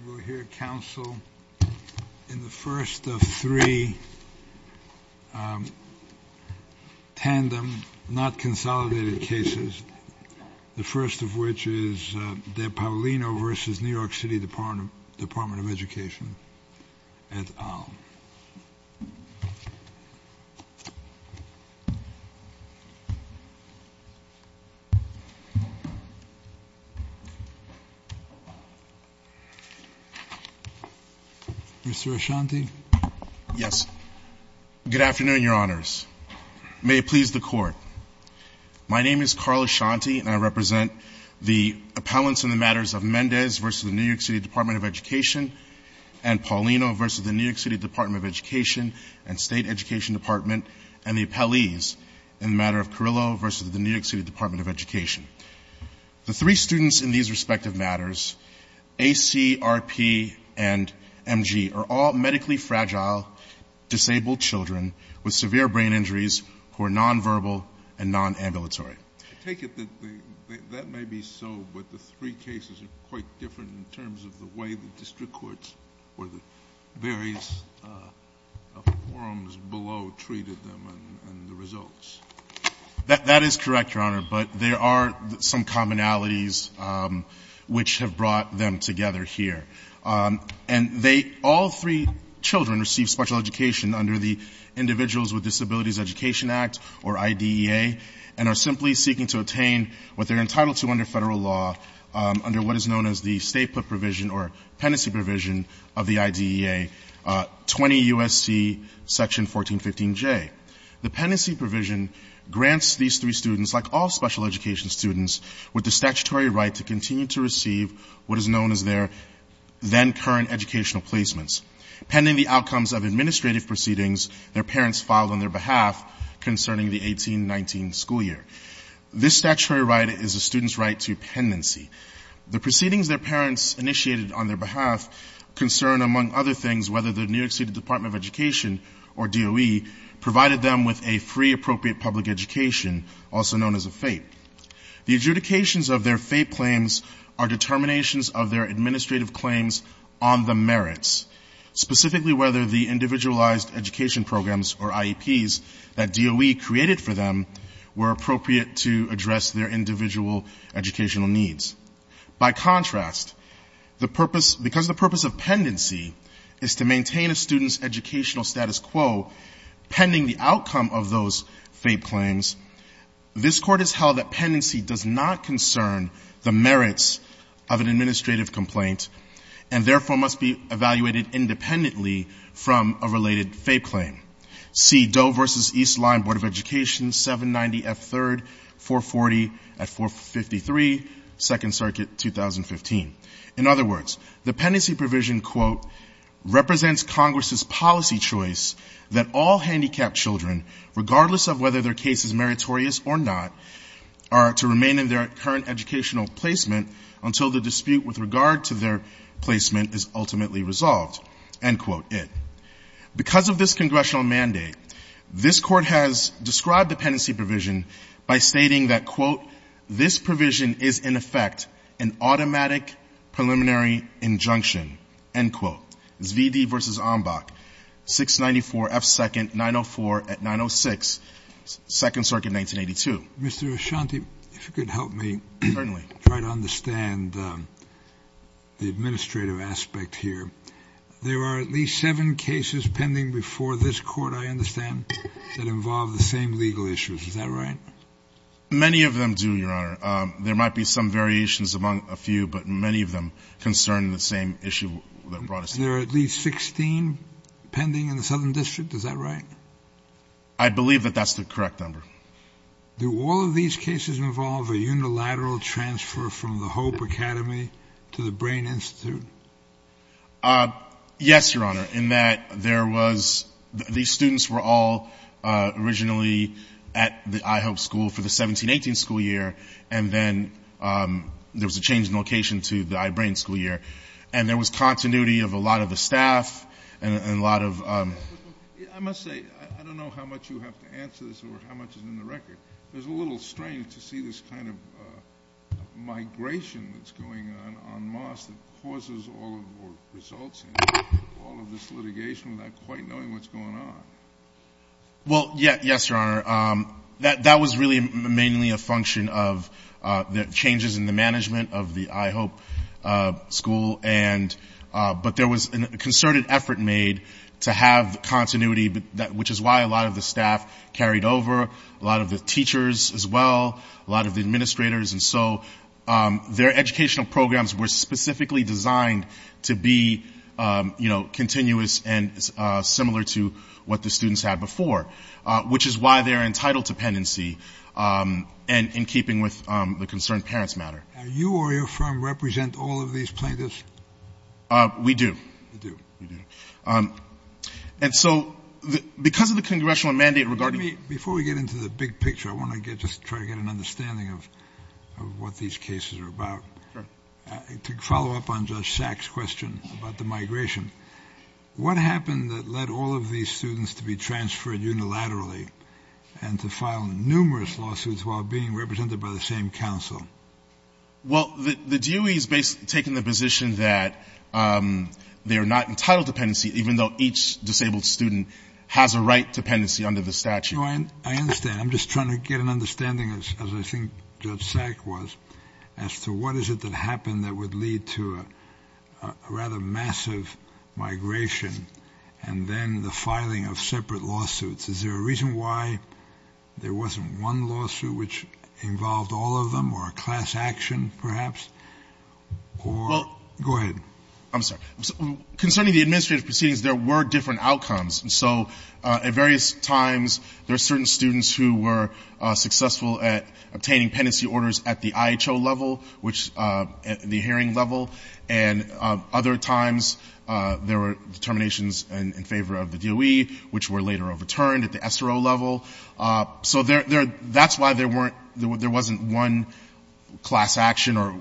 And we'll hear counsel in the first of three tandem, not consolidated, cases. The first of which is Deb Paolino v. New York City Department of Education at OWL. Mr. Ashanti? Yes. Good afternoon, Your Honors. May it please the Court. My name is Carl Ashanti, and I represent the appellants in the matters of Mendez v. New York City Department of Education and Paolino v. New York City Department of Education and State Education Department and the appellees in the matter of Carrillo v. New York City Department of Education. The three students in these respective matters, A.C., R.P., and M.G., are all medically fragile, disabled children with severe brain injuries who are nonverbal and nonambulatory. I take it that that may be so, but the three cases are quite different in terms of the way the district courts or the various forums below treated them and the results. That is correct, Your Honor, but there are some commonalities which have brought them together here. And they, all three children, receive special education under the Individuals with Disabilities Education Act, or IDEA, and are simply seeking to attain what they're entitled to under federal law, under what is known as the state provision or pendency provision of the IDEA, 20 U.S.C. section 1415J. The pendency provision grants these three students, like all special education students, with the statutory right to continue to receive what is known as their then-current educational placements pending the outcomes of administrative proceedings their parents filed on their behalf concerning the 18-19 school year. This statutory right is a student's right to pendency. The proceedings their parents initiated on their behalf concern, among other things, whether the New York State Department of Education, or DOE, provided them with a free appropriate public education, also known as a FAPE. The adjudications of their FAPE claims are determinations of their administrative claims on the merits, specifically whether the individualized education programs, or IEPs, that DOE created for them were appropriate to address their individual educational needs. By contrast, because the purpose of pendency is to maintain a student's educational status quo pending the outcome of those FAPE claims, this Court has held that pendency does not concern the merits of an administrative complaint and therefore must be evaluated independently from a related FAPE claim. See DOE v. Eastline Board of Education, 790 F. 3rd, 440 at 453, 2nd Circuit, 2015. In other words, the pendency provision, quote, represents Congress's policy choice that all handicapped children, regardless of whether their case is meritorious or not, are to remain in their current educational placement until the dispute with regard to their placement is ultimately resolved. End quote. Because of this congressional mandate, this Court has described the pendency provision by stating that, quote, this provision is in effect an automatic preliminary injunction. End quote. Zvidee v. Ambach, 694 F. 2nd, 904 at 906, 2nd Circuit, 1982. Mr. Ashanti, if you could help me. Certainly. Try to understand the administrative aspect here. There are at least seven cases pending before this Court, I understand, that involve the same legal issues. Is that right? Many of them do, Your Honor. There might be some variations among a few, but many of them concern the same issue that brought us here. There are at least 16 pending in the Southern District. Is that right? I believe that that's the correct number. Do all of these cases involve a unilateral transfer from the Hope Academy to the Brain Institute? Yes, Your Honor, in that there was the students were all originally at the IHOP school for the 17-18 school year, and then there was a change in location to the I-Brain school year. And there was continuity of a lot of the staff and a lot of — I must say, I don't know how much you have to answer this or how much is in the record. But there's a little strange to see this kind of migration that's going on on Mars that causes all of or results in all of this litigation without quite knowing what's going on. Well, yes, Your Honor. That was really mainly a function of the changes in the management of the IHOP school, but there was a concerted effort made to have continuity, which is why a lot of the staff carried over. A lot of the teachers as well, a lot of the administrators. And so their educational programs were specifically designed to be, you know, continuous and similar to what the students had before, which is why they're entitled to pendency and in keeping with the concerned parents matter. Now, you or your firm represent all of these plaintiffs? We do. You do? We do. And so because of the congressional mandate regarding — Before we get into the big picture, I want to just try to get an understanding of what these cases are about. Sure. To follow up on Judge Sack's question about the migration, what happened that led all of these students to be transferred unilaterally and to file numerous lawsuits while being represented by the same counsel? Well, the DUE is basically taking the position that they are not entitled to pendency, even though each disabled student has a right to pendency under the statute. I understand. I'm just trying to get an understanding, as I think Judge Sack was, as to what is it that happened that would lead to a rather massive migration and then the filing of separate lawsuits. Is there a reason why there wasn't one lawsuit which involved all of them or a class action, perhaps? Or — Well — Go ahead. I'm sorry. Concerning the administrative proceedings, there were different outcomes. And so at various times, there are certain students who were successful at obtaining pendency orders at the IHO level, which — the hearing level. And other times, there were determinations in favor of the DUE, which were later overturned at the SRO level. So that's why there wasn't one class action or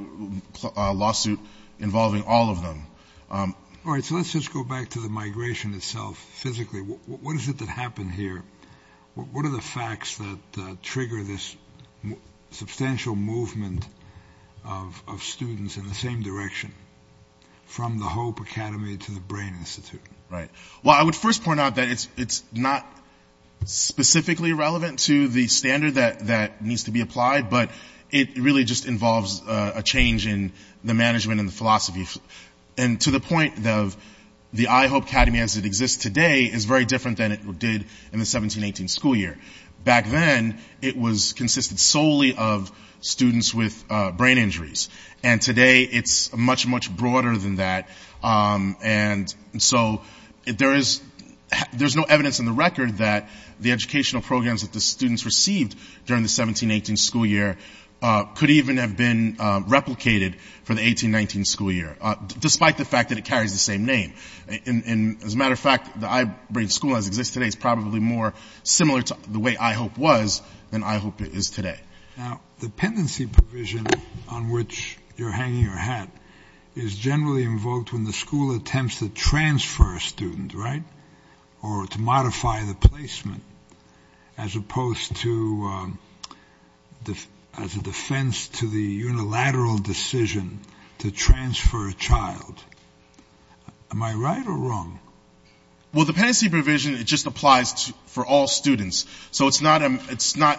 lawsuit involving all of them. All right. So let's just go back to the migration itself physically. What is it that happened here? What are the facts that trigger this substantial movement of students in the same direction, from the HOPE Academy to the Brain Institute? Right. Well, I would first point out that it's not specifically relevant to the standard that needs to be applied, but it really just involves a change in the management and the philosophy. And to the point of the IHOPE Academy as it exists today is very different than it did in the 17-18 school year. Back then, it consisted solely of students with brain injuries. And today, it's much, much broader than that. And so there is — there's no evidence in the record that the educational programs that the students received during the 17-18 school year could even have been replicated for the 18-19 school year, despite the fact that it carries the same name. And as a matter of fact, the I-Brain School, as it exists today, is probably more similar to the way IHOPE was than IHOPE is today. Now, the pendency provision on which you're hanging your hat is generally invoked when the school attempts to transfer a student, right? Or to modify the placement, as opposed to — as a defense to the unilateral decision to transfer a child. Am I right or wrong? Well, the pendency provision, it just applies for all students. So it's not — it's not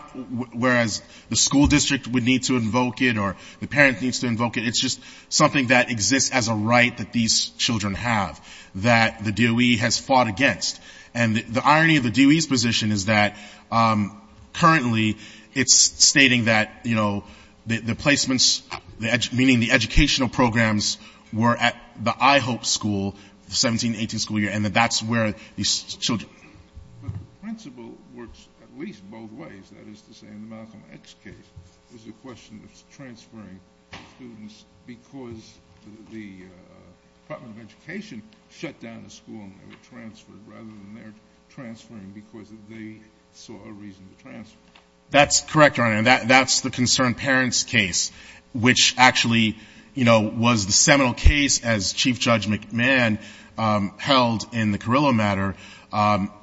whereas the school district would need to invoke it or the parent needs to invoke it. It's just something that exists as a right that these children have that the DOE has fought against. And the irony of the DOE's position is that currently, it's stating that, you know, the placements — meaning the educational programs were at the IHOPE school, the 17-18 school year, and that that's where these children — But the principle works at least both ways. That is to say, in the Malcolm X case, it was a question of transferring students because the Department of Education shut down the school and they were transferred, rather than their transferring because they saw a reason to transfer. That's correct, Your Honor. And that's the concerned parents case, which actually, you know, was the seminal case, as Chief Judge McMahon held in the Carrillo matter,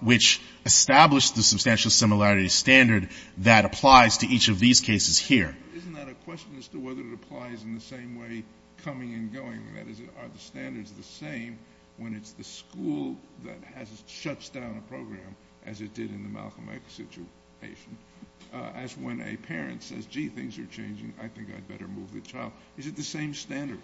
which established the substantial similarity standard that applies to each of these cases here. Isn't that a question as to whether it applies in the same way coming and going? That is, are the standards the same when it's the school that has — shuts down a program, as it did in the Malcolm X situation, as when a parent says, gee, things are changing. I think I'd better move the child. Is it the same standard?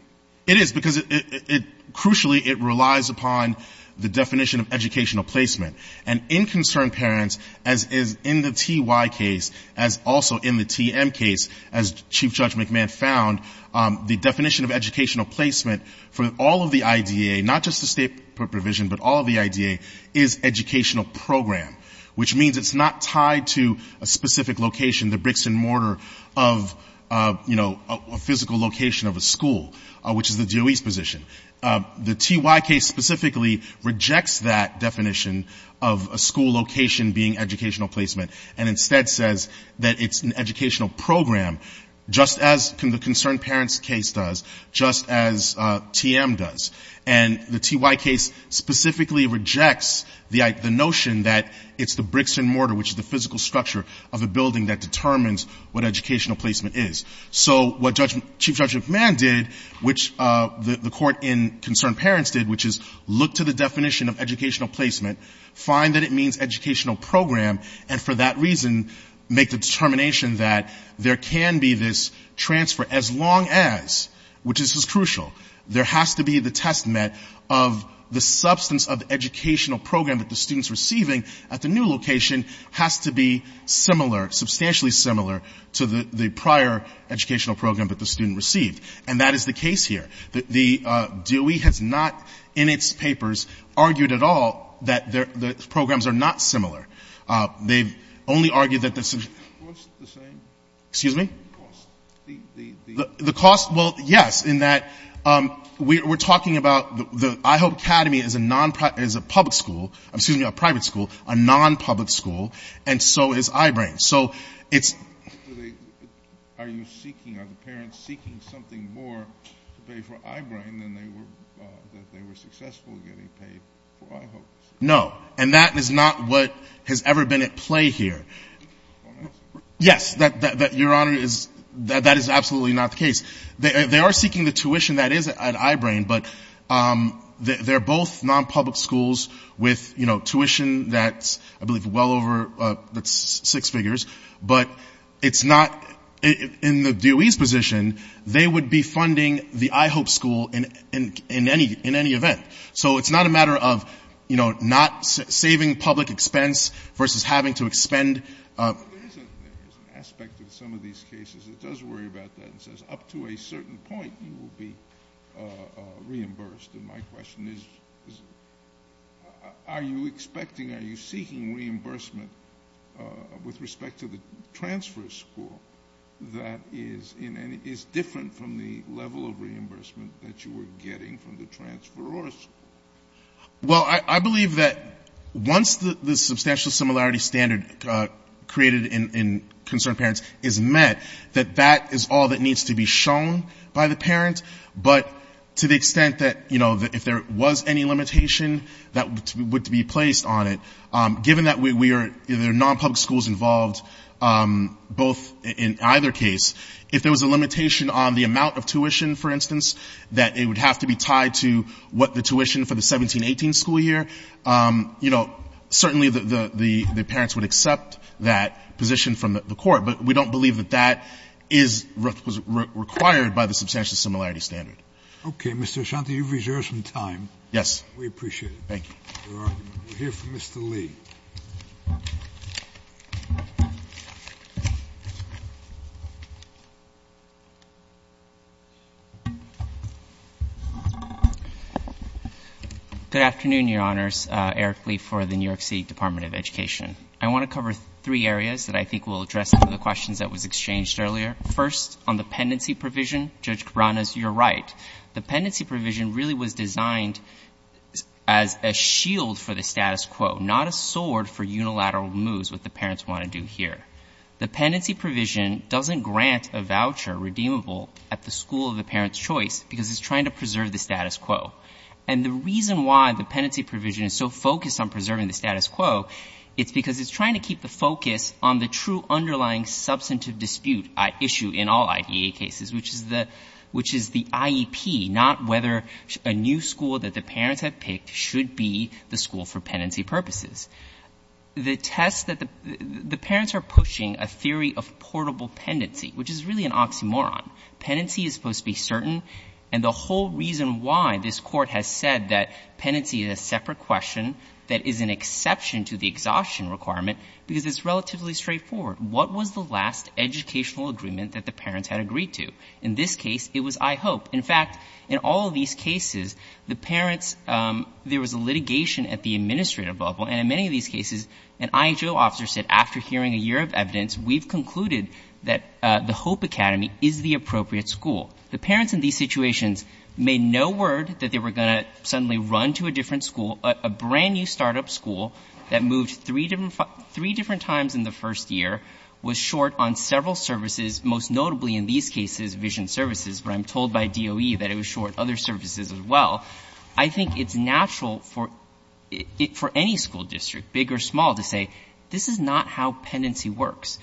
It is, because it — crucially, it relies upon the definition of educational placement. And in concerned parents, as is in the T.Y. case, as also in the T.M. case, as Chief Judge McMahon found, the definition of educational placement for all of the IDA, not just the state provision, but all of the IDA, is educational program, which means it's not tied to a specific location, the bricks and mortar of a physical location of a school, which is the DOE's position. The T.Y. case specifically rejects that definition of a school location being educational placement and instead says that it's an educational program, just as the concerned parents case does, just as T.M. does. And the T.Y. case specifically rejects the notion that it's the bricks and mortar, which is the physical structure of a building, that determines what educational placement is. So what Chief Judge McMahon did, which the court in concerned parents did, which is look to the definition of educational placement, find that it means educational program, and for that reason make the determination that there can be this transfer as long as, which is crucial, there has to be the testament of the substance of the educational program that the student's receiving at the new location has to be similar, substantially similar, to the prior educational program that the student received. And that is the case here. The DOE has not in its papers argued at all that the programs are not similar. They've only argued that the — Excuse me? The cost. The cost? Well, yes, in that we're talking about the — IHOPE Academy is a non — is a public school — excuse me, a private school, a non-public school, and so is I-BRAIN. So it's — Are you seeking — are the parents seeking something more to pay for I-BRAIN than they were — that they were successful getting paid for I-HOPE? No. And that is not what has ever been at play here. Yes. Your Honor, that is absolutely not the case. They are seeking the tuition that is at I-BRAIN, but they're both non-public schools with, you know, tuition that's, I believe, well over — that's six figures. But it's not — in the DOE's position, they would be funding the I-HOPE school in any event. So it's not a matter of, you know, not saving public expense versus having to expend — There is an aspect of some of these cases that does worry about that and says up to a certain point, you will be reimbursed. And my question is, are you expecting, are you seeking reimbursement with respect to the transfer school that is different from the level of reimbursement that you were getting from the transfer or school? Well, I believe that once the substantial similarity standard created in concerned parents is met, that that is all that needs to be shown by the parent. But to the extent that, you know, if there was any limitation that would be placed on it, given that we are — there are non-public schools involved both in either case, if there was a limitation on the amount of tuition, for instance, that it would have to be tied to what the tuition for the 17-18 school year, you know, certainly the parents would accept that position from the Court. But we don't believe that that is required by the substantial similarity standard. Okay. Mr. Ashanti, you've reserved some time. Yes. We appreciate it. Thank you. Your argument. We'll hear from Mr. Lee. Good afternoon, Your Honors. Eric Lee for the New York City Department of Education. I want to cover three areas that I think will address some of the questions that was exchanged earlier. First, on the pendency provision, Judge Cabranas, you're right. The pendency provision really was designed as a shield for the status quo, not a sword for unilateral moves, what the parents want to do here. The pendency provision doesn't grant a voucher redeemable at the school of the parent's choice because it's trying to preserve the status quo. And the reason why the pendency provision is so focused on preserving the status quo, it's because it's trying to keep the focus on the true underlying substantive dispute issue in all IDEA cases, which is the IEP, not whether a new school that the parents have picked should be the school for pendency purposes. The test that the parents are pushing a theory of portable pendency, which is really an oxymoron. Pendency is supposed to be certain. And the whole reason why this Court has said that pendency is a separate question that is an exception to the exhaustion requirement, because it's relatively straightforward. What was the last educational agreement that the parents had agreed to? In this case, it was IHOPE. In fact, in all of these cases, the parents, there was a litigation at the administrative level, and in many of these cases, an IHO officer said after hearing a year of evidence, we've concluded that the HOPE Academy is the appropriate school. The parents in these situations made no word that they were going to suddenly run to a different school, a brand-new startup school that moved three different times in the first year, was short on several services, most notably in these cases Vision Services. But I'm told by DOE that it was short other services as well. I think it's natural for any school district, big or small, to say this is not how pendency works.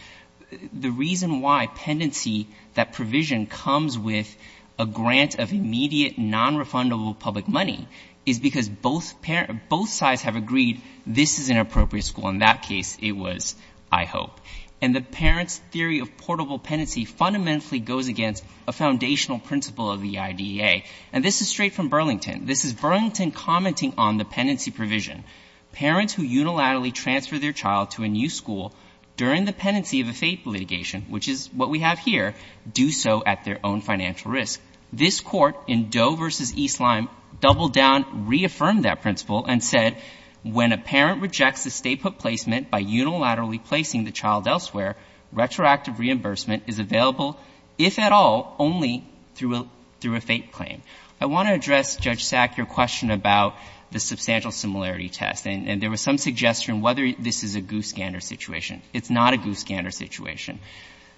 The reason why pendency, that provision, comes with a grant of immediate nonrefundable public money is because both sides have agreed this is an appropriate school. In that case, it was IHOPE. And the parents' theory of portable pendency fundamentally goes against a foundational principle of the IDEA. And this is straight from Burlington. This is Burlington commenting on the pendency provision. Parents who unilaterally transfer their child to a new school during the pendency of a fatal litigation, which is what we have here, do so at their own financial risk. This court in DOE v. East Lime doubled down, reaffirmed that principle, and said when a parent rejects a stay-put placement by unilaterally placing the child elsewhere, retroactive reimbursement is available, if at all, only through a fake claim. I want to address, Judge Sack, your question about the substantial similarity test, and there was some suggestion whether this is a goose-gander situation. It's not a goose-gander situation.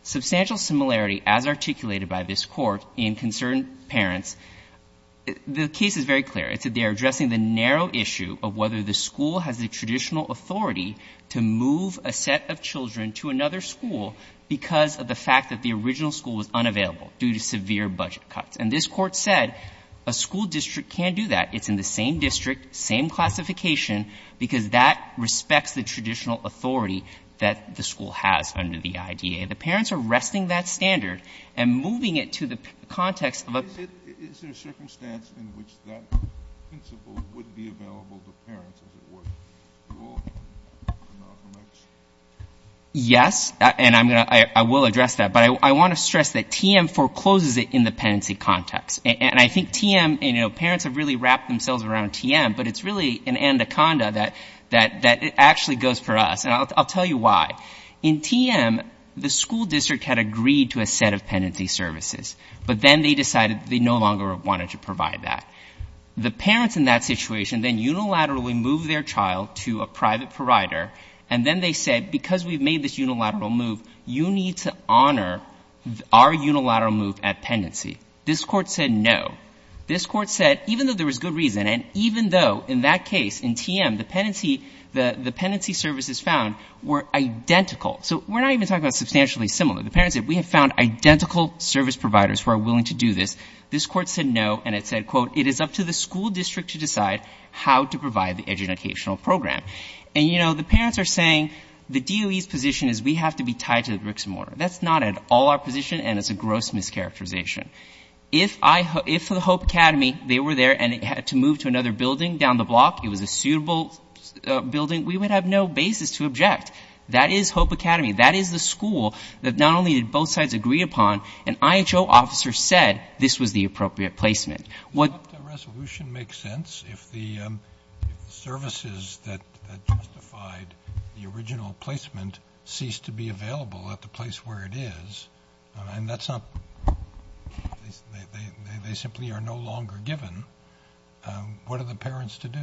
Substantial similarity, as articulated by this Court in concerned parents, the case is very clear. It's that they are addressing the narrow issue of whether the school has the traditional authority to move a set of children to another school because of the fact that the original school was unavailable due to severe budget cuts. And this Court said a school district can't do that. It's in the same district, same classification, because that respects the traditional authority that the school has under the IDEA. The parents are resting that standard and moving it to the context of a period of time. Is there a circumstance in which that principle would be available to parents, as it were, to all? Yes. And I'm going to — I will address that. But I want to stress that TM forecloses it in the penancy context. And I think TM — you know, parents have really wrapped themselves around TM, but it's really an anaconda that it actually goes for us. And I'll tell you why. In TM, the school district had agreed to a set of penancy services, but then they decided that they no longer wanted to provide that. The parents in that situation then unilaterally moved their child to a private provider, and then they said, because we've made this unilateral move, you need to honor our unilateral move at penancy. This Court said no. This Court said, even though there was good reason, and even though in that case, in TM, the penancy — the penancy services found were identical. So we're not even talking about substantially similar. The parents said, we have found identical service providers who are willing to do this. This Court said no, and it said, quote, it is up to the school district to decide how to provide the educational program. And, you know, the parents are saying the DOE's position is we have to be tied to the bricks and mortar. That's not at all our position, and it's a gross mischaracterization. If I — if the Hope Academy, they were there and it had to move to another building down the block, it was a suitable building, we would have no basis to object. That is Hope Academy. That is the school that not only did both sides agree upon, an IHO officer said this was the appropriate placement. What — If the resolution makes sense, if the services that justified the original placement ceased to be available at the place where it is, and that's not — they simply are no longer given, what are the parents to do?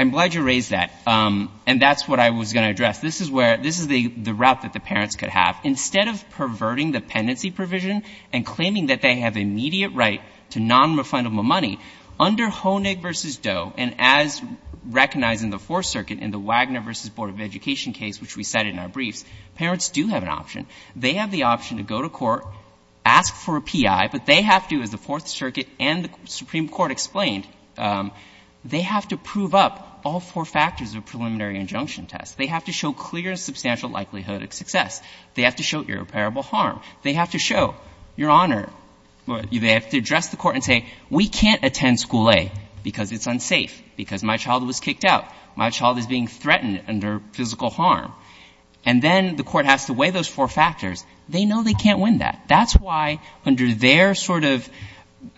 I'm glad you raised that, and that's what I was going to address. This is where — this is the route that the parents could have. Instead of perverting the pendency provision and claiming that they have immediate right to nonrefundable money, under Honig v. DOE, and as recognized in the Fourth Circuit in the Wagner v. Board of Education case, which we cited in our briefs, parents do have an option. They have the option to go to court, ask for a P.I., but they have to, as the Fourth Circuit and the Supreme Court explained, they have to prove up all four factors of preliminary injunction tests. They have to show clear and substantial likelihood of success. They have to show irreparable harm. They have to show your honor. They have to address the court and say, we can't attend school A because it's unsafe, because my child was kicked out. My child is being threatened under physical harm. And then the court has to weigh those four factors. They know they can't win that. That's why under their sort of —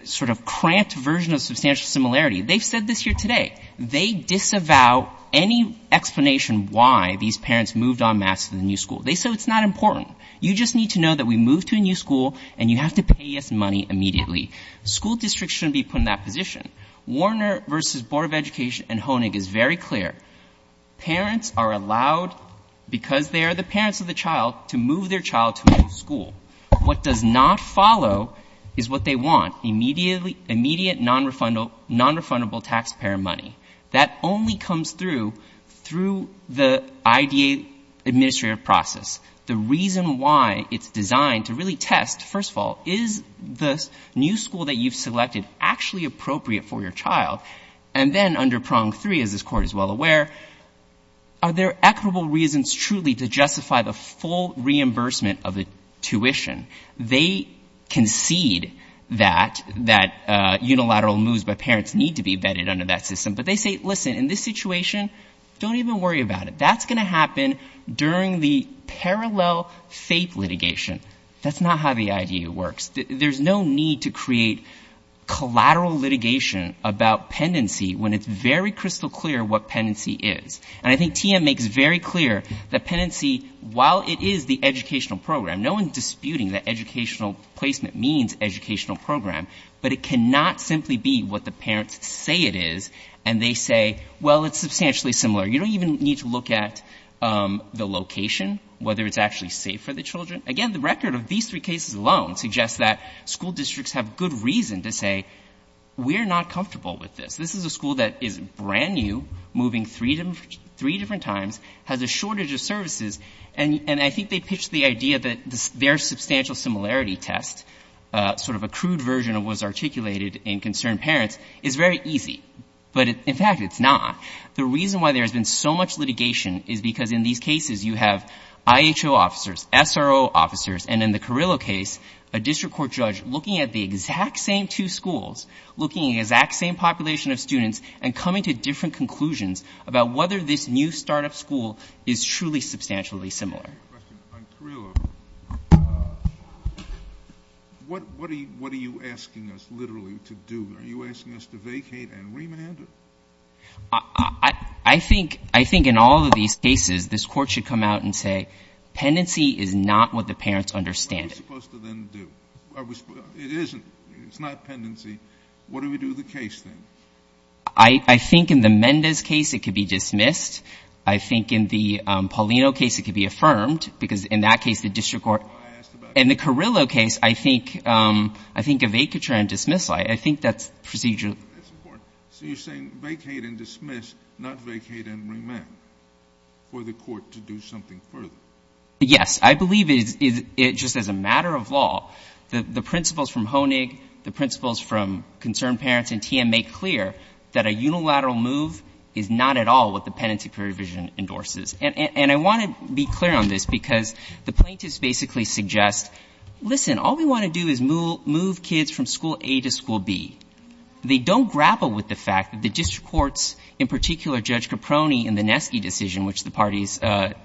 sort of cramped version of substantial similarity they've said this here today. They disavow any explanation why these parents moved en masse to the new school. They say it's not important. You just need to know that we moved to a new school, and you have to pay us money immediately. School districts shouldn't be put in that position. Warner v. Board of Education and Honig is very clear. Parents are allowed, because they are the parents of the child, to move their child to a new school. What does not follow is what they want, immediately — immediate nonrefundable taxpayer money. That only comes through, through the IDA administrative process. The reason why it's designed to really test, first of all, is the new school that you've selected actually appropriate for your child? And then under prong three, as this Court is well aware, are there equitable reasons truly to justify the full reimbursement of the tuition. They concede that, that unilateral moves by parents need to be vetted under that system. But they say, listen, in this situation, don't even worry about it. That's going to happen during the parallel fate litigation. That's not how the IDA works. There's no need to create collateral litigation about pendency when it's very crystal clear what pendency is. And I think TM makes very clear that pendency, while it is the educational program — no one's disputing that educational placement means educational program — but it cannot simply be what the parents say it is, and they say, well, it's substantially similar. You don't even need to look at the location, whether it's actually safe for the children. Again, the record of these three cases alone suggests that school districts have good reason to say, we're not comfortable with this. This is a school that is brand new, moving three different times, has a shortage of services, and I think they pitched the idea that their substantial similarity test, sort of a crude version of what was articulated in Concerned Parents, is very easy. But, in fact, it's not. The reason why there has been so much litigation is because in these cases you have IHO officers, SRO officers, and in the Carrillo case, a district court judge looking at the exact same two schools, looking at the exact same population of students and coming to different conclusions about whether this new start-up school is truly substantially similar. I have a question. On Carrillo, what are you asking us literally to do? Are you asking us to vacate and remand it? I think in all of these cases this Court should come out and say, pendency is not what the parents understand it. What are we supposed to then do? It isn't. It's not pendency. What do we do with the case, then? I think in the Mendez case it could be dismissed. I think in the Paulino case it could be affirmed, because in that case the district court — I asked about — In the Carrillo case, I think a vacature and dismissal. I think that's procedural. That's important. So you're saying vacate and dismiss, not vacate and remand, for the Court to do something further? Yes. I believe it just as a matter of law, the principles from Honig, the principles from Concerned Parents and TM make clear that a unilateral move is not at all what the pendency provision endorses. And I want to be clear on this, because the plaintiffs basically suggest, listen, all we want to do is move kids from school A to school B. They don't grapple with the fact that the district courts, in particular Judge Caproni and the Nesky decision, which the parties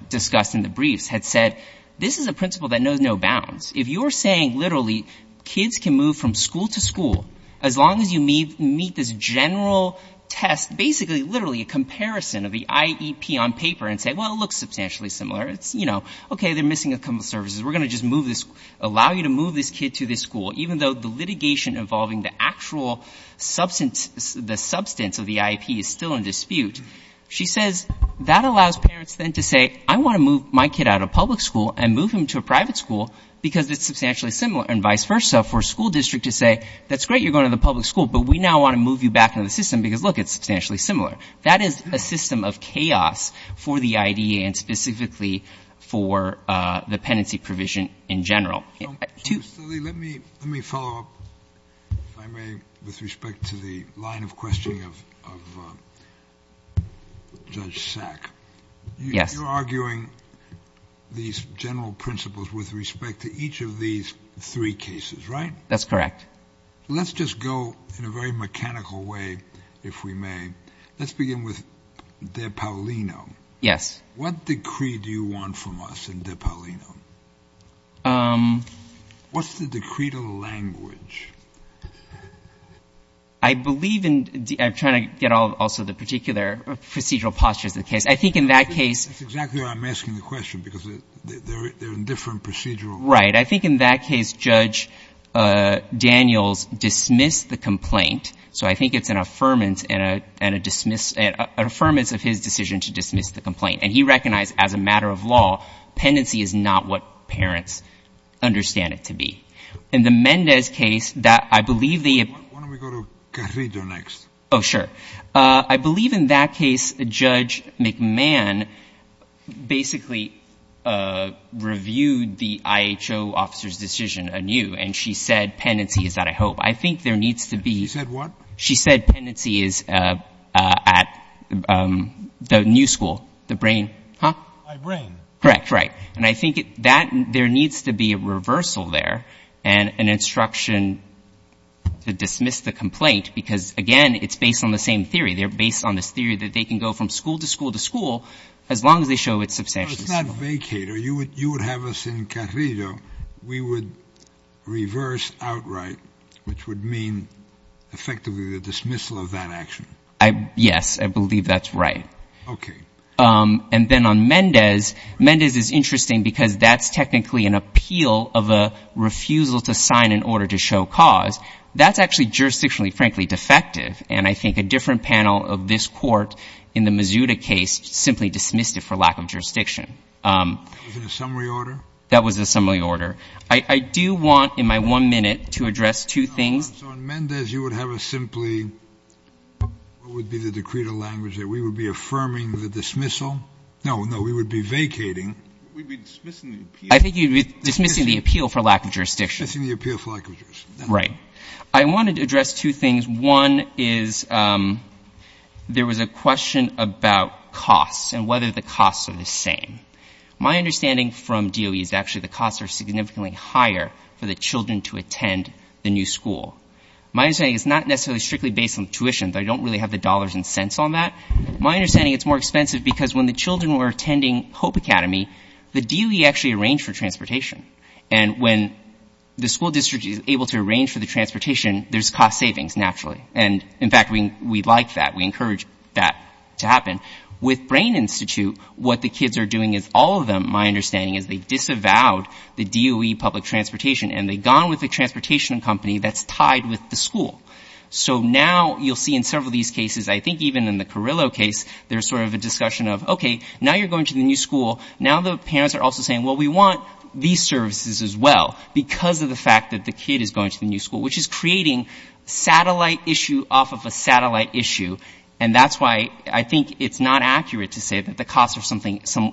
discussed in the briefs, had said this is a principle that knows no bounds. If you're saying literally kids can move from school to school, as long as you meet this general test, basically, literally a comparison of the IEP on paper and say, well, it looks substantially similar, it's, you know, okay, they're missing a couple of services, we're going to just move this — allow you to move this kid to this school, even though the litigation involving the actual substance — the substance of the IEP is still in dispute. She says that allows parents then to say, I want to move my kid out of public school and move him to a private school because it's substantially similar, and vice versa for a school district to say, that's great, you're going to the public school, but we now want to move you back into the system because, look, it's substantially similar. That is a system of chaos for the IDEA and specifically for the pendency provision in general. Let me follow up, if I may, with respect to the line of question of Judge Sack. Yes. You're arguing these general principles with respect to each of these three cases, right? That's correct. Let's just go in a very mechanical way, if we may. Let's begin with De Paulino. Yes. What decree do you want from us in De Paulino? What's the decreed language? I believe in — I'm trying to get also the particular procedural postures of the case. I think in that case — That's exactly why I'm asking the question, because they're in different procedural — Right. I think in that case, Judge Daniels dismissed the complaint, so I think it's an affirmance and a dismiss — an affirmance of his decision to dismiss the complaint, and he recognized, as a matter of law, pendency is not what parents understand it to be. In the Mendez case, that — I believe the — Why don't we go to Carrillo next? Oh, sure. I believe in that case, Judge McMahon basically reviewed the IHO officer's decision anew, and she said pendency is out of hope. I think there needs to be — She said what? She said pendency is at the new school, the brain — Huh? My brain. Correct, right. And I think that — there needs to be a reversal there and an instruction to dismiss the complaint, because, again, it's based on the same theory. They're based on this theory that they can go from school to school to school as long as they show it's substantially small. So it's not vacate, or you would have us in Carrillo, we would reverse outright, which would mean effectively the dismissal of that action. Yes, I believe that's right. Okay. And then on Mendez, Mendez is interesting because that's technically an appeal of a refusal to sign an order to show cause. That's actually jurisdictionally, frankly, defective, and I think a different panel of this court in the Mazuda case simply dismissed it for lack of jurisdiction. Was it a summary order? That was a summary order. I do want, in my one minute, to address two things. So on Mendez, you would have a simply — what would be the decreed language there? We would be affirming the dismissal? No, no, we would be vacating. We'd be dismissing the appeal. I think you'd be dismissing the appeal for lack of jurisdiction. Dismissing the appeal for lack of jurisdiction. Right. I wanted to address two things. One is there was a question about costs and whether the costs are the same. My understanding from DOE is actually the costs are significantly higher for the children to attend the new school. My understanding is it's not necessarily strictly based on tuition. They don't really have the dollars and cents on that. My understanding, it's more expensive because when the children were attending Hope Academy, the DOE actually arranged for transportation. And when the school district is able to arrange for the transportation, there's cost savings, naturally. And, in fact, we like that. We encourage that to happen. With Brain Institute, what the kids are doing is all of them, my understanding is, they disavowed the DOE public transportation and they've gone with a transportation company that's tied with the school. So now you'll see in several of these cases, I think even in the Carrillo case, there's sort of a discussion of, okay, now you're going to the new school. Now the parents are also saying, well, we want these services as well because of the fact that the kid is going to the new school, which is creating satellite issue off of a satellite issue. And that's why I think it's not accurate to say that the costs are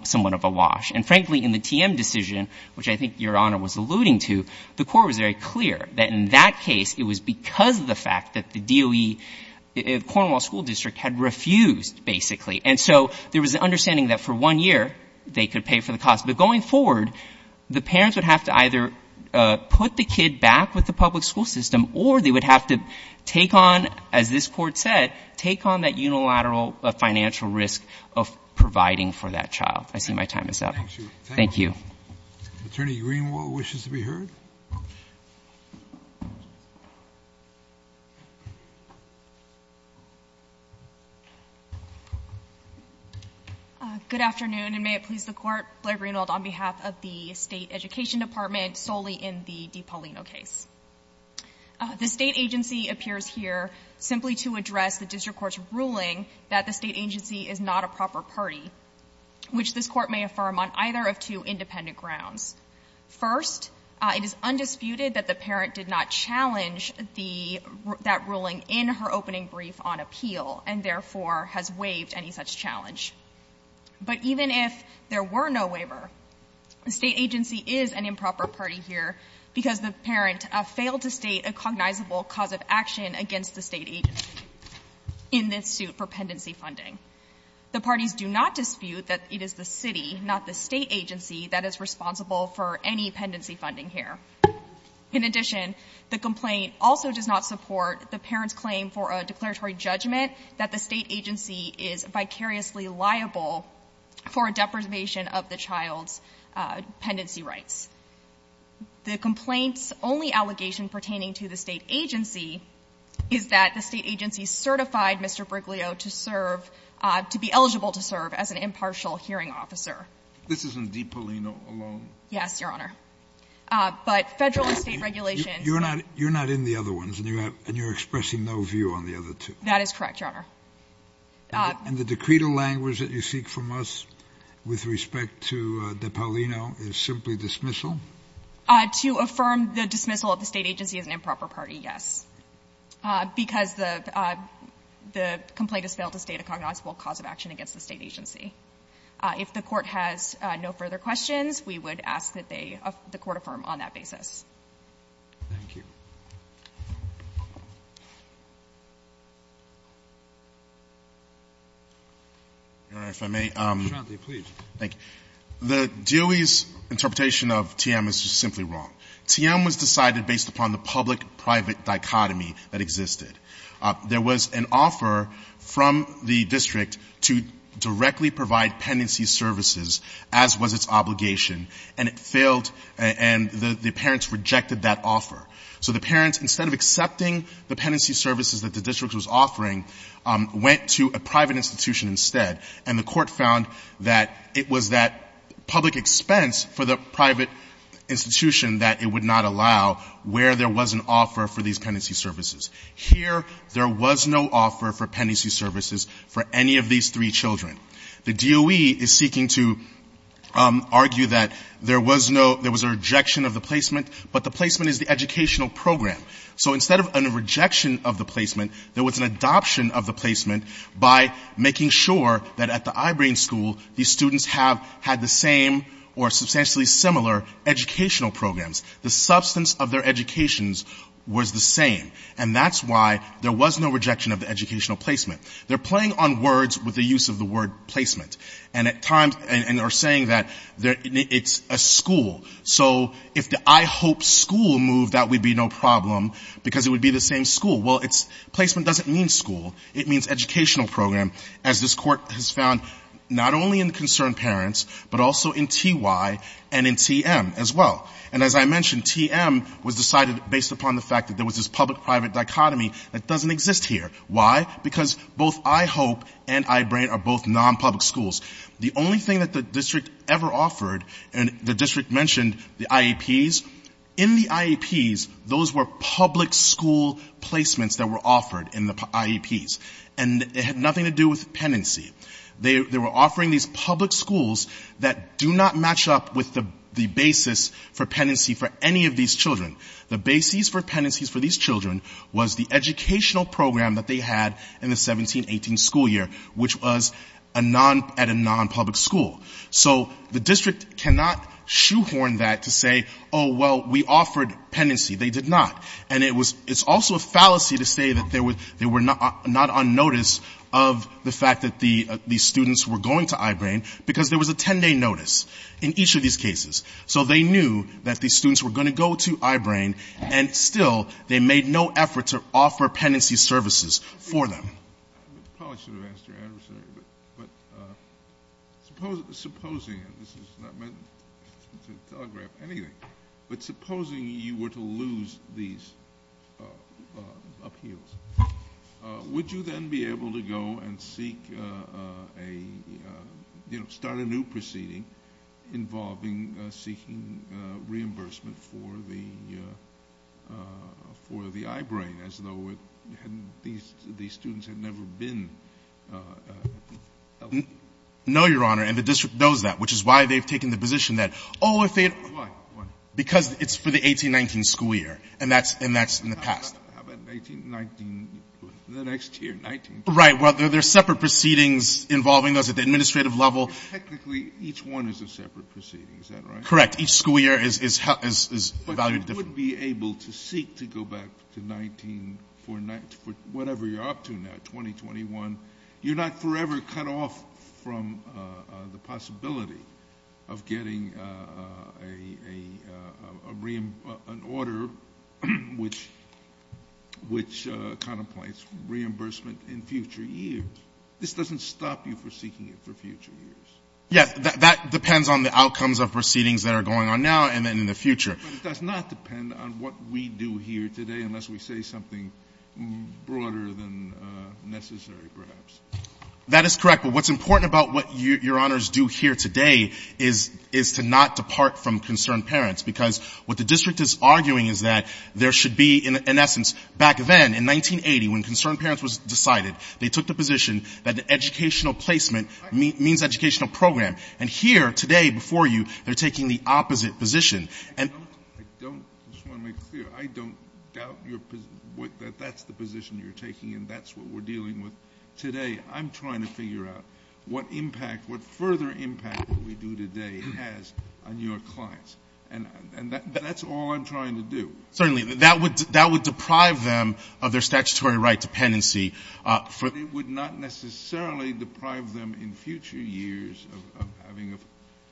somewhat of a wash. And, frankly, in the TM decision, which I think Your Honor was alluding to, the Court was very clear that in that case it was because of the fact that the DOE, Cornwall School District, had refused, basically. And so there was an understanding that for one year they could pay for the costs. But going forward, the parents would have to either put the kid back with the public school system or they would have to take on, as this Court said, take on that unilateral financial risk of providing for that child. I see my time is up. Thank you. Thank you. Attorney Greenwald wishes to be heard. Good afternoon, and may it please the Court, Blair Greenwald on behalf of the State Education Department, solely in the DiPaolino case. The State agency appears here simply to address the district court's ruling that the State agency is not a proper party, which this Court may affirm on either of two independent grounds. First, it is undisputed that the parent did not challenge the — that ruling in her opening brief on appeal, and therefore has waived any such challenge. But even if there were no waiver, the State agency is an improper party here because the parent failed to state a cognizable cause of action against the State agency in this suit for pendency funding. The parties do not dispute that it is the city, not the State agency, that is responsible for any pendency funding here. In addition, the complaint also does not support the parent's claim for a declaratory judgment that the State agency is vicariously liable for a deprivation of the child's pendency rights. The complaint's only allegation pertaining to the State agency is that the State agency certified Mr. Briglio to serve — to be eligible to serve as an impartial hearing officer. This is in DiPaolino alone? Yes, Your Honor. But Federal and State regulations — You're not in the other ones, and you're expressing no view on the other two. That is correct, Your Honor. And the decreto language that you seek from us with respect to DiPaolino is simply dismissal? To affirm the dismissal of the State agency as an improper party, yes, because the — the complaint has failed to state a cognizable cause of action against the State agency. If the Court has no further questions, we would ask that they — the Court affirm on that basis. Thank you. Your Honor, if I may. Mr. Tranti, please. Thank you. The DOE's interpretation of TM is just simply wrong. TM was decided based upon the public-private dichotomy that existed. There was an offer from the district to directly provide pendency services, as was its obligation, and it failed, and the parents rejected that offer. So the parents, instead of accepting the pendency services that the district was offering, went to a private institution instead. And the Court found that it was that public expense for the private institution that it would not allow where there was an offer for these pendency services. Here, there was no offer for pendency services for any of these three children. The DOE is seeking to argue that there was no — there was a rejection of the placement is the educational program. So instead of a rejection of the placement, there was an adoption of the placement by making sure that at the Ibram School, these students have had the same or substantially similar educational programs. The substance of their educations was the same, and that's why there was no rejection of the educational placement. They're playing on words with the use of the word placement, and at times — and they're saying that it's a school. So if the I hope school moved, that would be no problem because it would be the same school. Well, it's — placement doesn't mean school. It means educational program, as this Court has found not only in the concerned parents, but also in T.Y. and in T.M. as well. And as I mentioned, T.M. was decided based upon the fact that there was this public-private dichotomy that doesn't exist here. Why? Because both I hope and Ibram are both nonpublic schools. The only thing that the district ever offered — and the district mentioned the IEPs. In the IEPs, those were public school placements that were offered in the IEPs, and it had nothing to do with penancy. They were offering these public schools that do not match up with the basis for penancy for any of these children. The basis for penancies for these children was the educational program that they had in the 17-18 school year, which was at a nonpublic school. So the district cannot shoehorn that to say, oh, well, we offered penancy. They did not. And it's also a fallacy to say that they were not on notice of the fact that these students were going to I-BRAIN because there was a 10-day notice in each of these cases. So they knew that these students were going to go to I-BRAIN, and still they made no effort to offer penancy services for them. I probably should have asked your answer, but supposing — and this is not meant to telegraph anything — but supposing you were to lose these appeals, would you then be able to go and seek a — you know, start a new proceeding involving seeking reimbursement for the — for the I-BRAIN, as though it hadn't — these students had never been — No, Your Honor. And the district knows that, which is why they've taken the position that, oh, if they had — Why? Why? Because it's for the 18-19 school year, and that's — and that's in the past. How about 19 — the next year, 19 — Right. Well, there are separate proceedings involving those at the administrative level. Well, technically, each one is a separate proceeding. Is that right? Correct. Each school year is valued differently. But you would be able to seek to go back to 19 for whatever you're up to now, 2021. You're not forever cut off from the possibility of getting an order which contemplates reimbursement in future years. This doesn't stop you from seeking it for future years. Yes. That depends on the outcomes of proceedings that are going on now and then in the future. But it does not depend on what we do here today unless we say something broader than necessary, perhaps. That is correct. But what's important about what Your Honors do here today is — is to not depart from concerned parents, because what the district is arguing is that there should be — in essence, back then, in 1980, when concerned parents was decided, they took the position that the educational placement means educational program. And here, today, before you, they're taking the opposite position. I just want to make it clear. I don't doubt that that's the position you're taking and that's what we're dealing with today. I'm trying to figure out what impact, what further impact what we do today has on your clients. And that's all I'm trying to do. Certainly. That would deprive them of their statutory right dependency. But it would not necessarily deprive them in future years of having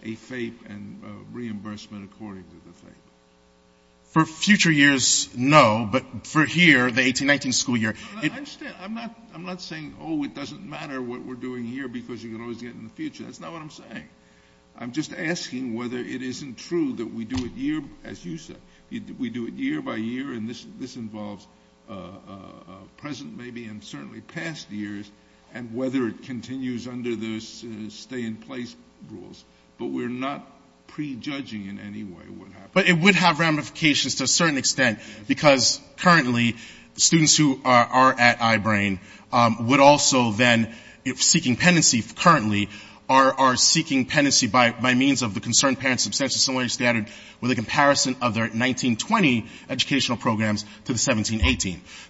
a FAPE and reimbursement according to the FAPE. For future years, no. But for here, the 1819 school year — I understand. I'm not — I'm not saying, oh, it doesn't matter what we're doing here because you can always get in the future. That's not what I'm saying. I'm just asking whether it isn't true that we do it year — as you said, we do it year by year. And this involves present maybe and certainly past years and whether it continues under those stay-in-place rules. But we're not prejudging in any way what happens. But it would have ramifications to a certain extent because currently students who are at I-BRAIN would also then, seeking penancy currently, are seeking penancy by means of the Concerned Parents' Substance Disorder Standard with a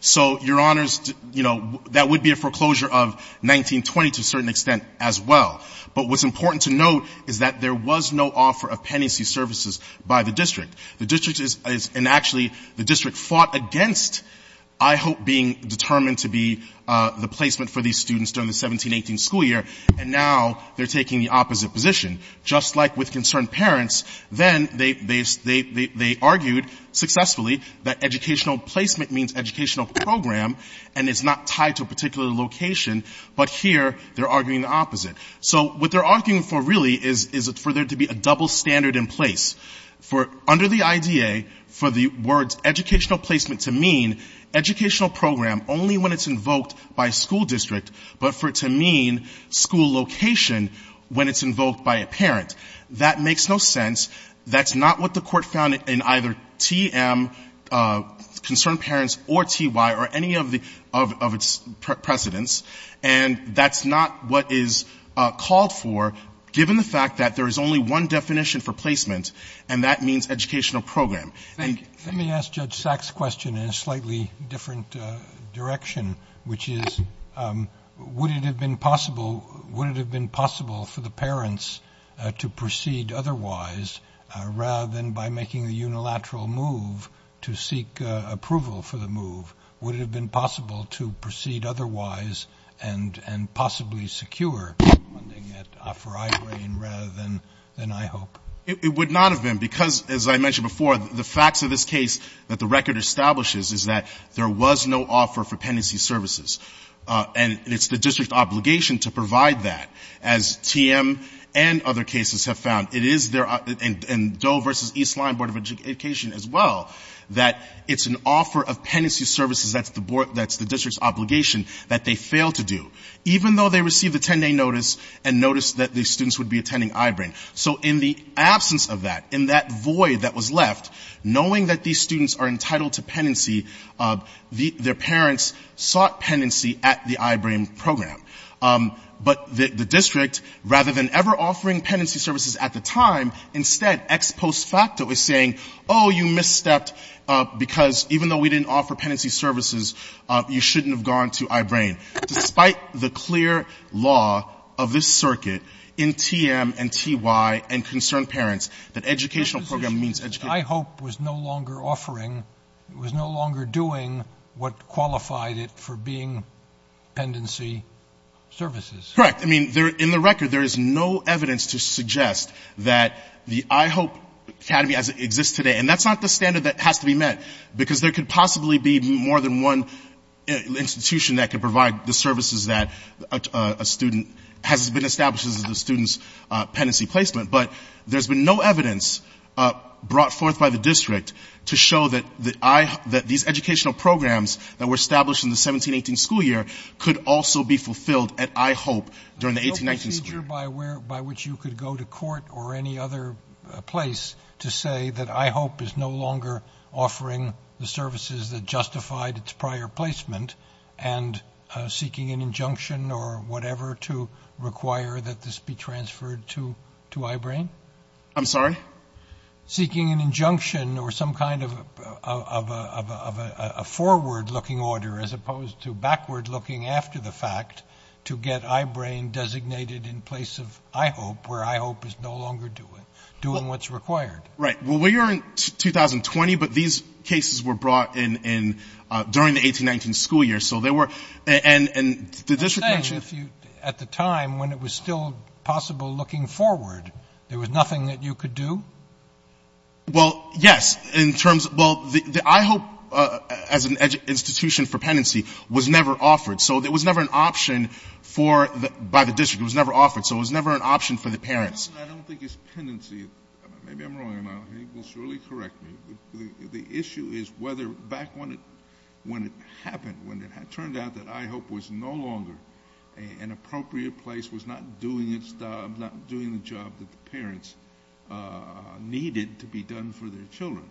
So, Your Honors, you know, that would be a foreclosure of 1920 to a certain extent as well. But what's important to note is that there was no offer of penancy services by the district. The district is — and actually the district fought against, I hope, being determined to be the placement for these students during the 1718 school year, and now they're taking the opposite position. Just like with Concerned Parents, then they — they argued successfully that educational placement means educational program, and it's not tied to a particular location, but here they're arguing the opposite. So what they're arguing for really is for there to be a double standard in place. For — under the IDA, for the words educational placement to mean educational program only when it's invoked by a school district, but for it to mean school location when it's invoked by a parent. That makes no sense. That's not what the Court found in either TM, Concerned Parents, or TY, or any of the — of its precedents. And that's not what is called for, given the fact that there is only one definition for placement, and that means educational program. And — Let me ask Judge Sack's question in a slightly different direction, which is, would it have been possible — would it have been possible for the parents to proceed otherwise, rather than by making the unilateral move to seek approval for the move? Would it have been possible to proceed otherwise and possibly secure funding at Offer Eye Brain rather than — than I hope? It would not have been, because, as I mentioned before, the facts of this case that the record establishes is that there was no offer for pendency services, and it's the district obligation to provide that. As TM and other cases have found, it is their — and Doe v. Eastline Board of Education as well, that it's an offer of pendency services that's the board — that's the district's obligation that they fail to do, even though they received a 10-day notice and noticed that the students would be attending Eye Brain. So in the absence of that, in that void that was left, knowing that these students are entitled to pendency, their parents sought pendency at the Eye Brain program. But the district, rather than ever offering pendency services at the time, instead, ex post facto is saying, oh, you misstepped, because even though we didn't offer pendency services, you shouldn't have gone to Eye Brain. Despite the clear law of this circuit in TM and TY and concerned parents that educational program means — I hope was no longer offering — was no longer doing what qualified it for being pendency services. Correct. I mean, there — in the record, there is no evidence to suggest that the Eye Hope Academy as it exists today — and that's not the standard that has to be met, because there could possibly be more than one institution that could provide the services that a student — has been established as the student's pendency placement. But there's been no evidence brought forth by the district to show that these educational programs that were established in the 17-18 school year could also be fulfilled at Eye Hope during the 18-19 school year. No procedure by which you could go to court or any other place to say that Eye Hope is no longer offering the services that justified its prior placement and seeking an injunction or whatever to require that this be transferred to Eye Brain? I'm sorry? Seeking an injunction or some kind of a forward-looking order, as opposed to backward-looking after the fact, to get Eye Brain designated in place of Eye Hope, where Eye Hope is no longer doing what's required. Right. Well, we are in 2020, but these cases were brought in during the 18-19 school year, so they were — and the district mentioned — I'm saying, if you — at the time, when it was still possible looking forward, there was nothing that you could do? Well, yes, in terms — well, the Eye Hope, as an institution for penancy, was never offered. So there was never an option for — by the district. It was never offered. So it was never an option for the parents. I don't think it's penancy. Maybe I'm wrong, and I think you'll surely correct me. But the issue is whether back when it happened, when it turned out that Eye Hope was no longer an appropriate place, was not doing its job, not doing the job that the parents needed to be done for their children.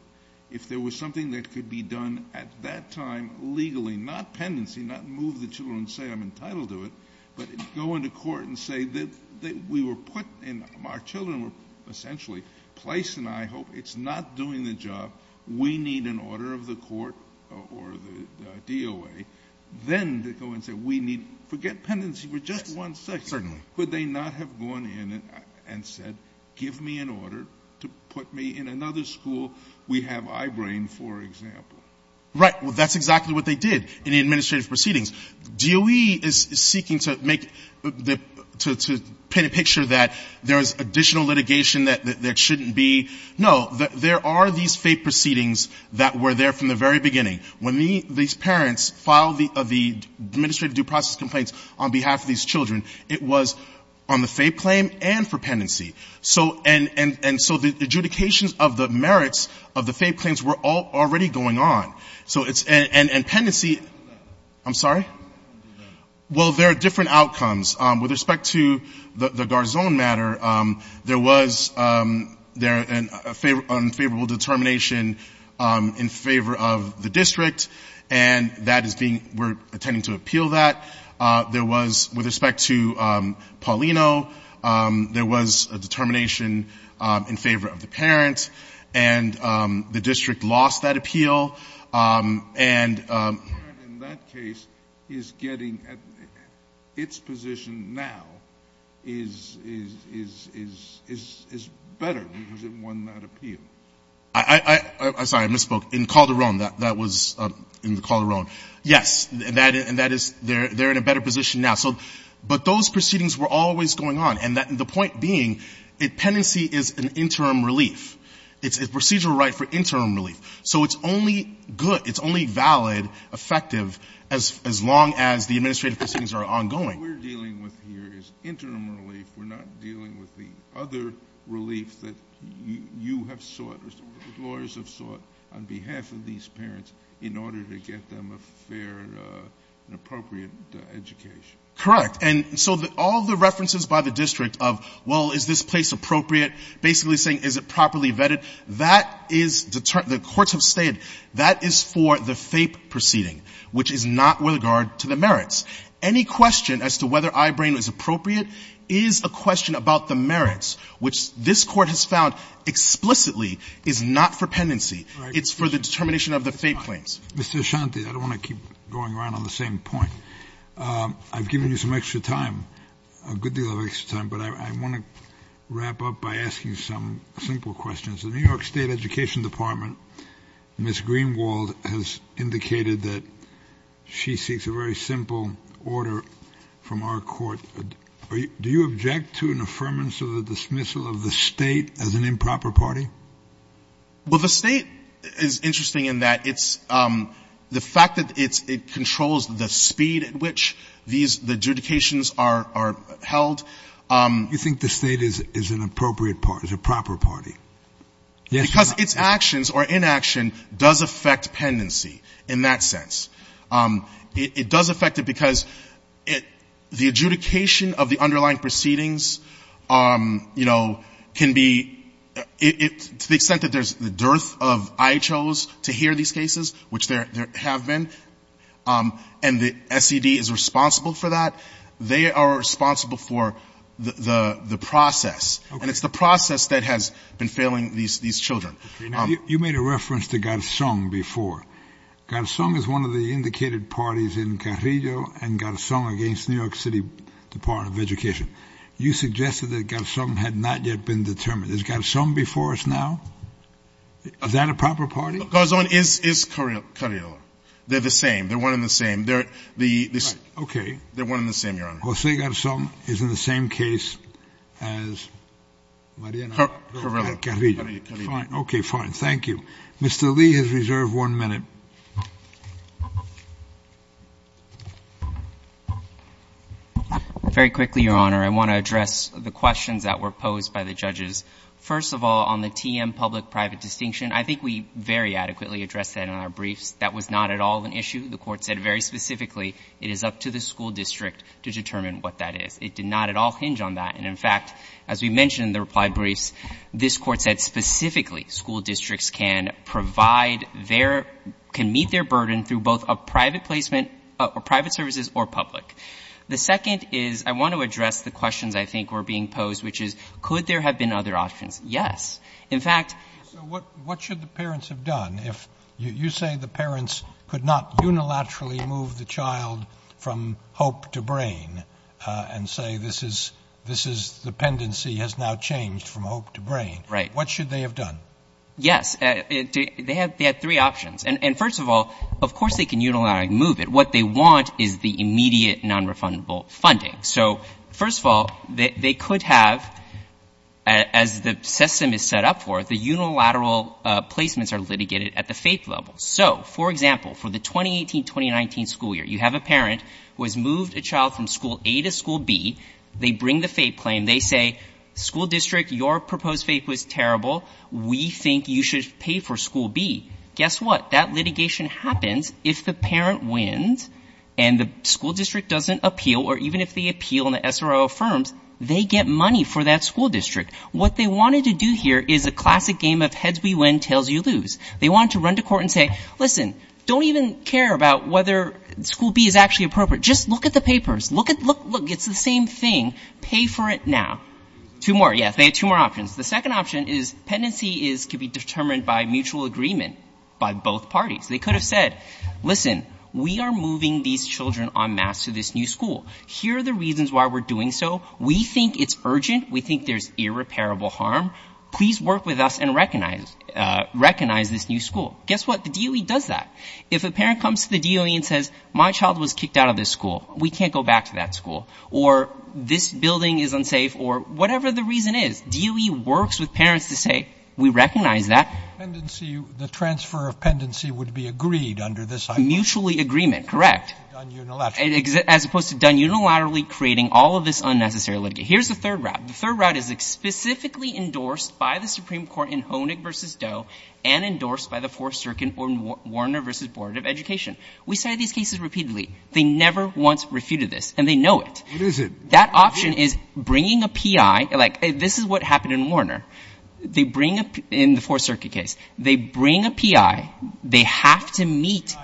If there was something that could be done at that time legally, not penancy, not move the children and say, I'm entitled to it, but go into court and say that we were put in — our children were essentially placed in Eye Hope. It's not doing the job. We need an order of the court or the DOA. Then they go and say, we need — forget penancy for just one second. Certainly. Could they not have gone in and said, give me an order to put me in another school? We have Eye Brain, for example. Right. Well, that's exactly what they did in the administrative proceedings. DOE is seeking to make — to paint a picture that there is additional litigation that there shouldn't be. No. There are these FAPE proceedings that were there from the very beginning. When these parents filed the administrative due process complaints on behalf of these children, it was on the FAPE claim and for penancy. And so the adjudications of the merits of the FAPE claims were all already going on. So it's — and penancy — I'm sorry? Well, there are different outcomes. With respect to the Garzon matter, there was an unfavorable determination in favor of the district, and that is being — we're intending to appeal that. There was — with respect to Paulino, there was a determination in favor of the parent, and the district lost that appeal. And — The parent in that case is getting — its position now is better because it won that appeal. I'm sorry. I misspoke. In Calderon. That was in Calderon. Yes. And that is — they're in a better position now. So — but those proceedings were always going on. And the point being, penancy is an interim relief. It's a procedural right for interim relief. So it's only good — it's only valid, effective, as long as the administrative proceedings are ongoing. What we're dealing with here is interim relief. We're not dealing with the other relief that you have sought or the lawyers have sought on behalf of these parents in order to get them a fair and appropriate education. Correct. And so all the references by the district of, well, is this place appropriate, basically saying, is it properly vetted, that is — the courts have said, that is for the FAPE proceeding, which is not with regard to the merits. Any question as to whether I-Brain was appropriate is a question about the merits, which this Court has found explicitly is not for penancy. It's for the determination of the FAPE claims. Mr. Ashanti, I don't want to keep going around on the same point. I've given you some extra time, a good deal of extra time, but I want to wrap up by asking some simple questions. The New York State Education Department, Ms. Greenwald, has indicated that she seeks a very simple order from our Court. Do you object to an affirmance of the dismissal of the State as an improper party? Well, the State is interesting in that it's — the fact that it's — it controls the speed at which these — the judications are held. You think the State is an appropriate party, is a proper party? Yes, Your Honor. Because its actions or inaction does affect penancy in that sense. It does affect it because the adjudication of the underlying proceedings, you know, can be — to the extent that there's the dearth of IHOs to hear these cases, which there have been, and the SED is responsible for that, they are responsible for the process. And it's the process that has been failing these children. Okay. Now, you made a reference to Garzón before. Garzón is one of the indicated parties in Carrillo and Garzón against New York City Department of Education. You suggested that Garzón had not yet been determined. Is Garzón before us now? Is that a proper party? Garzón is Carrillo. They're the same. They're one and the same. They're — Right. Okay. They're one and the same, Your Honor. José Garzón is in the same case as Mariana Carrillo. Carrillo. Carrillo. Fine. Okay, fine. Thank you. Mr. Lee has reserved one minute. Very quickly, Your Honor, I want to address the questions that were posed by the judges. First of all, on the TM public-private distinction, I think we very adequately addressed that in our briefs. That was not at all an issue. The Court said very specifically it is up to the school district to determine what that is. It did not at all hinge on that. And, in fact, as we mentioned in the reply briefs, this Court said specifically school districts can provide their — can meet their burden through both a private placement — private services or public. The second is I want to address the questions I think were being posed, which is could there have been other options? Yes. In fact — So what should the parents have done if — you say the parents could not unilaterally move the child from hope to brain and say this is — this is — dependency has now changed from hope to brain. Right. What should they have done? Yes. They have — they have three options. And, first of all, of course they can unilaterally move it. What they want is the immediate nonrefundable funding. So, first of all, they could have — as the system is set up for it, the unilateral placements are litigated at the faith level. So, for example, for the 2018-2019 school year, you have a parent who has moved a child from school A to school B. They bring the faith claim. They say, school district, your proposed faith was terrible. We think you should pay for school B. Guess what? That litigation happens if the parent wins and the school district doesn't appeal, or even if they appeal and the SRO affirms, they get money for that school district. What they wanted to do here is a classic game of heads we win, tails we lose. They wanted to run to court and say, listen, don't even care about whether school B is actually appropriate. Just look at the papers. Look at — look — look. It's the same thing. Pay for it now. Two more. Yes. They have two more options. The second option is dependency is — could be determined by mutual agreement by both parties. They could have said, listen, we are moving these children en masse to this new school. Here are the reasons why we're doing so. We think it's urgent. We think there's irreparable harm. Please work with us and recognize — recognize this new school. Guess what? The DOE does that. If a parent comes to the DOE and says, my child was kicked out of this school, we can't go back to that school, or this building is unsafe, or whatever the reason is, DOE works with parents to say, we recognize that. Pendency — the transfer of pendency would be agreed under this — Mutually agreement, correct. — as opposed to done unilaterally. As opposed to done unilaterally, creating all of this unnecessary litigation. Here's the third route. The third route is specifically endorsed by the Supreme Court in Honig v. Doe and endorsed by the Fourth Circuit in Warner v. Board of Education. We cited these cases repeatedly. They never once refuted this, and they know it. What is it? That option is bringing a P.I. Like, this is what happened in Warner. They bring a — in the Fourth Circuit case, they bring a P.I. They have to meet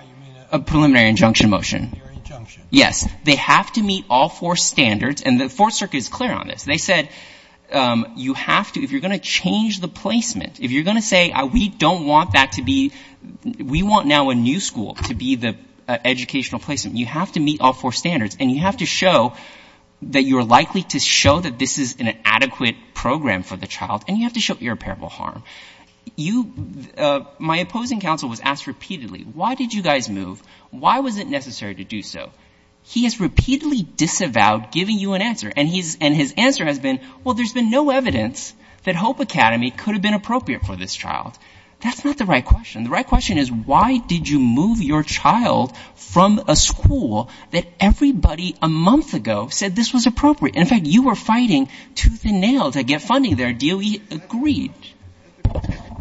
a preliminary injunction motion. Preliminary injunction. Yes. They have to meet all four standards, and the Fourth Circuit is clear on this. They said, you have to — if you're going to change the placement, if you're going to say, we don't want that to be — we want now a new school to be the educational placement, you have to meet all four standards, and you have to show that you're likely to show that this is an adequate program for the child. And you have to show irreparable harm. You — my opposing counsel was asked repeatedly, why did you guys move? Why was it necessary to do so? He has repeatedly disavowed giving you an answer, and his answer has been, well, there's been no evidence that Hope Academy could have been appropriate for this child. That's not the right question. The right question is, why did you move your child from a school that everybody a month ago said this was appropriate? In fact, you were fighting tooth and nail to get funding there. DOE agreed. That's the question.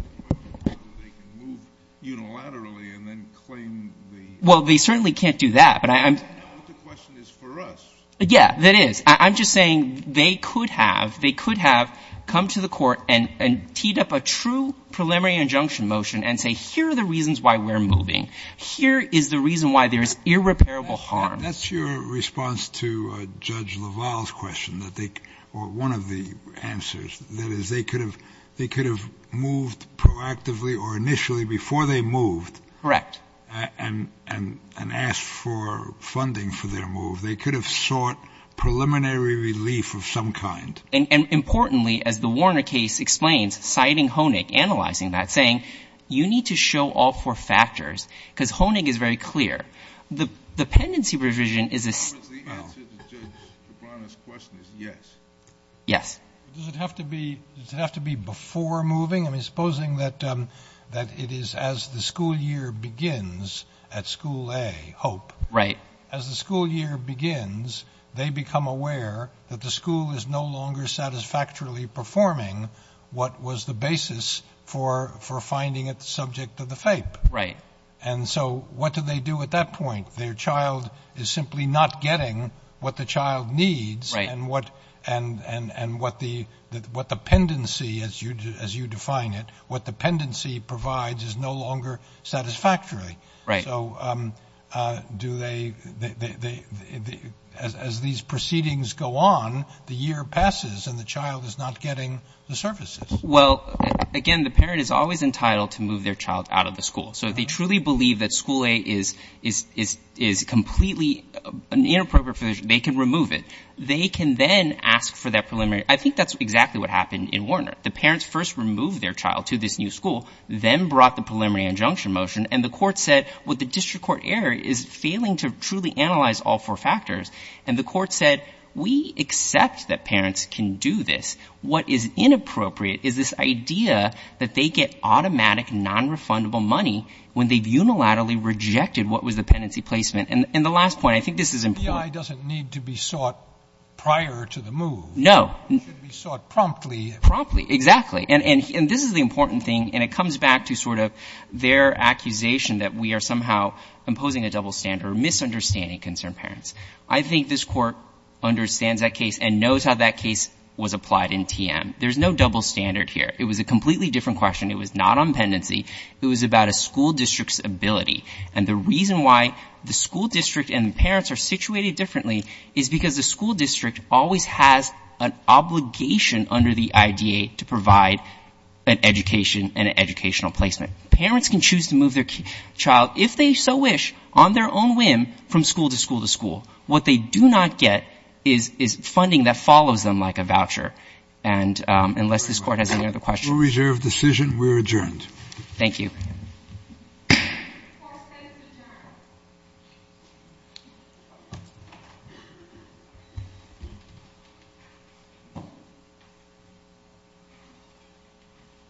They can move unilaterally and then claim the — Well, they certainly can't do that, but I'm — That's not what the question is for us. Yeah, that is. I'm just saying they could have. They could have come to the court and teed up a true preliminary injunction motion and say, here are the reasons why we're moving. Here is the reason why there is irreparable harm. That's your response to Judge LaValle's question, or one of the answers. That is, they could have moved proactively or initially before they moved. Correct. And asked for funding for their move. They could have sought preliminary relief of some kind. And importantly, as the Warner case explains, citing Honig, analyzing that, saying, you need to show all four factors because Honig is very clear. The pendency revision is a — The answer to Judge Kibana's question is yes. Yes. Does it have to be before moving? I mean, supposing that it is as the school year begins at School A, Hope. Right. As the school year begins, they become aware that the school is no longer satisfactorily performing what was the basis for finding it the subject of the FAPE. Right. And so what do they do at that point? Their child is simply not getting what the child needs. Right. And what the pendency, as you define it, what the pendency provides is no longer satisfactory. Right. So do they — as these proceedings go on, the year passes and the child is not getting the services. Well, again, the parent is always entitled to move their child out of the school. So if they truly believe that School A is completely inappropriate for their — they can remove it. They can then ask for that preliminary — I think that's exactly what happened in Warner. The parents first removed their child to this new school, then brought the preliminary injunction motion, and the court said, well, the district court error is failing to truly analyze all four factors. And the court said, we accept that parents can do this. What is inappropriate is this idea that they get automatic nonrefundable money when they've unilaterally rejected what was the pendency placement. And the last point, I think this is important. FBI doesn't need to be sought prior to the move. No. It should be sought promptly. Promptly. Exactly. And this is the important thing. And it comes back to sort of their accusation that we are somehow imposing a double standard or misunderstanding concerned parents. I think this court understands that case and knows how that case was applied in TM. There's no double standard here. It was a completely different question. It was not on pendency. It was about a school district's ability. And the reason why the school district and the parents are situated differently is because the school district always has an obligation under the IDA to provide an education and an educational placement. Parents can choose to move their child, if they so wish, on their own whim from school to school to school. What they do not get is funding that follows them like a voucher. And unless this Court has any other questions. Rule reserve decision. We're adjourned. Thank you. Court is adjourned.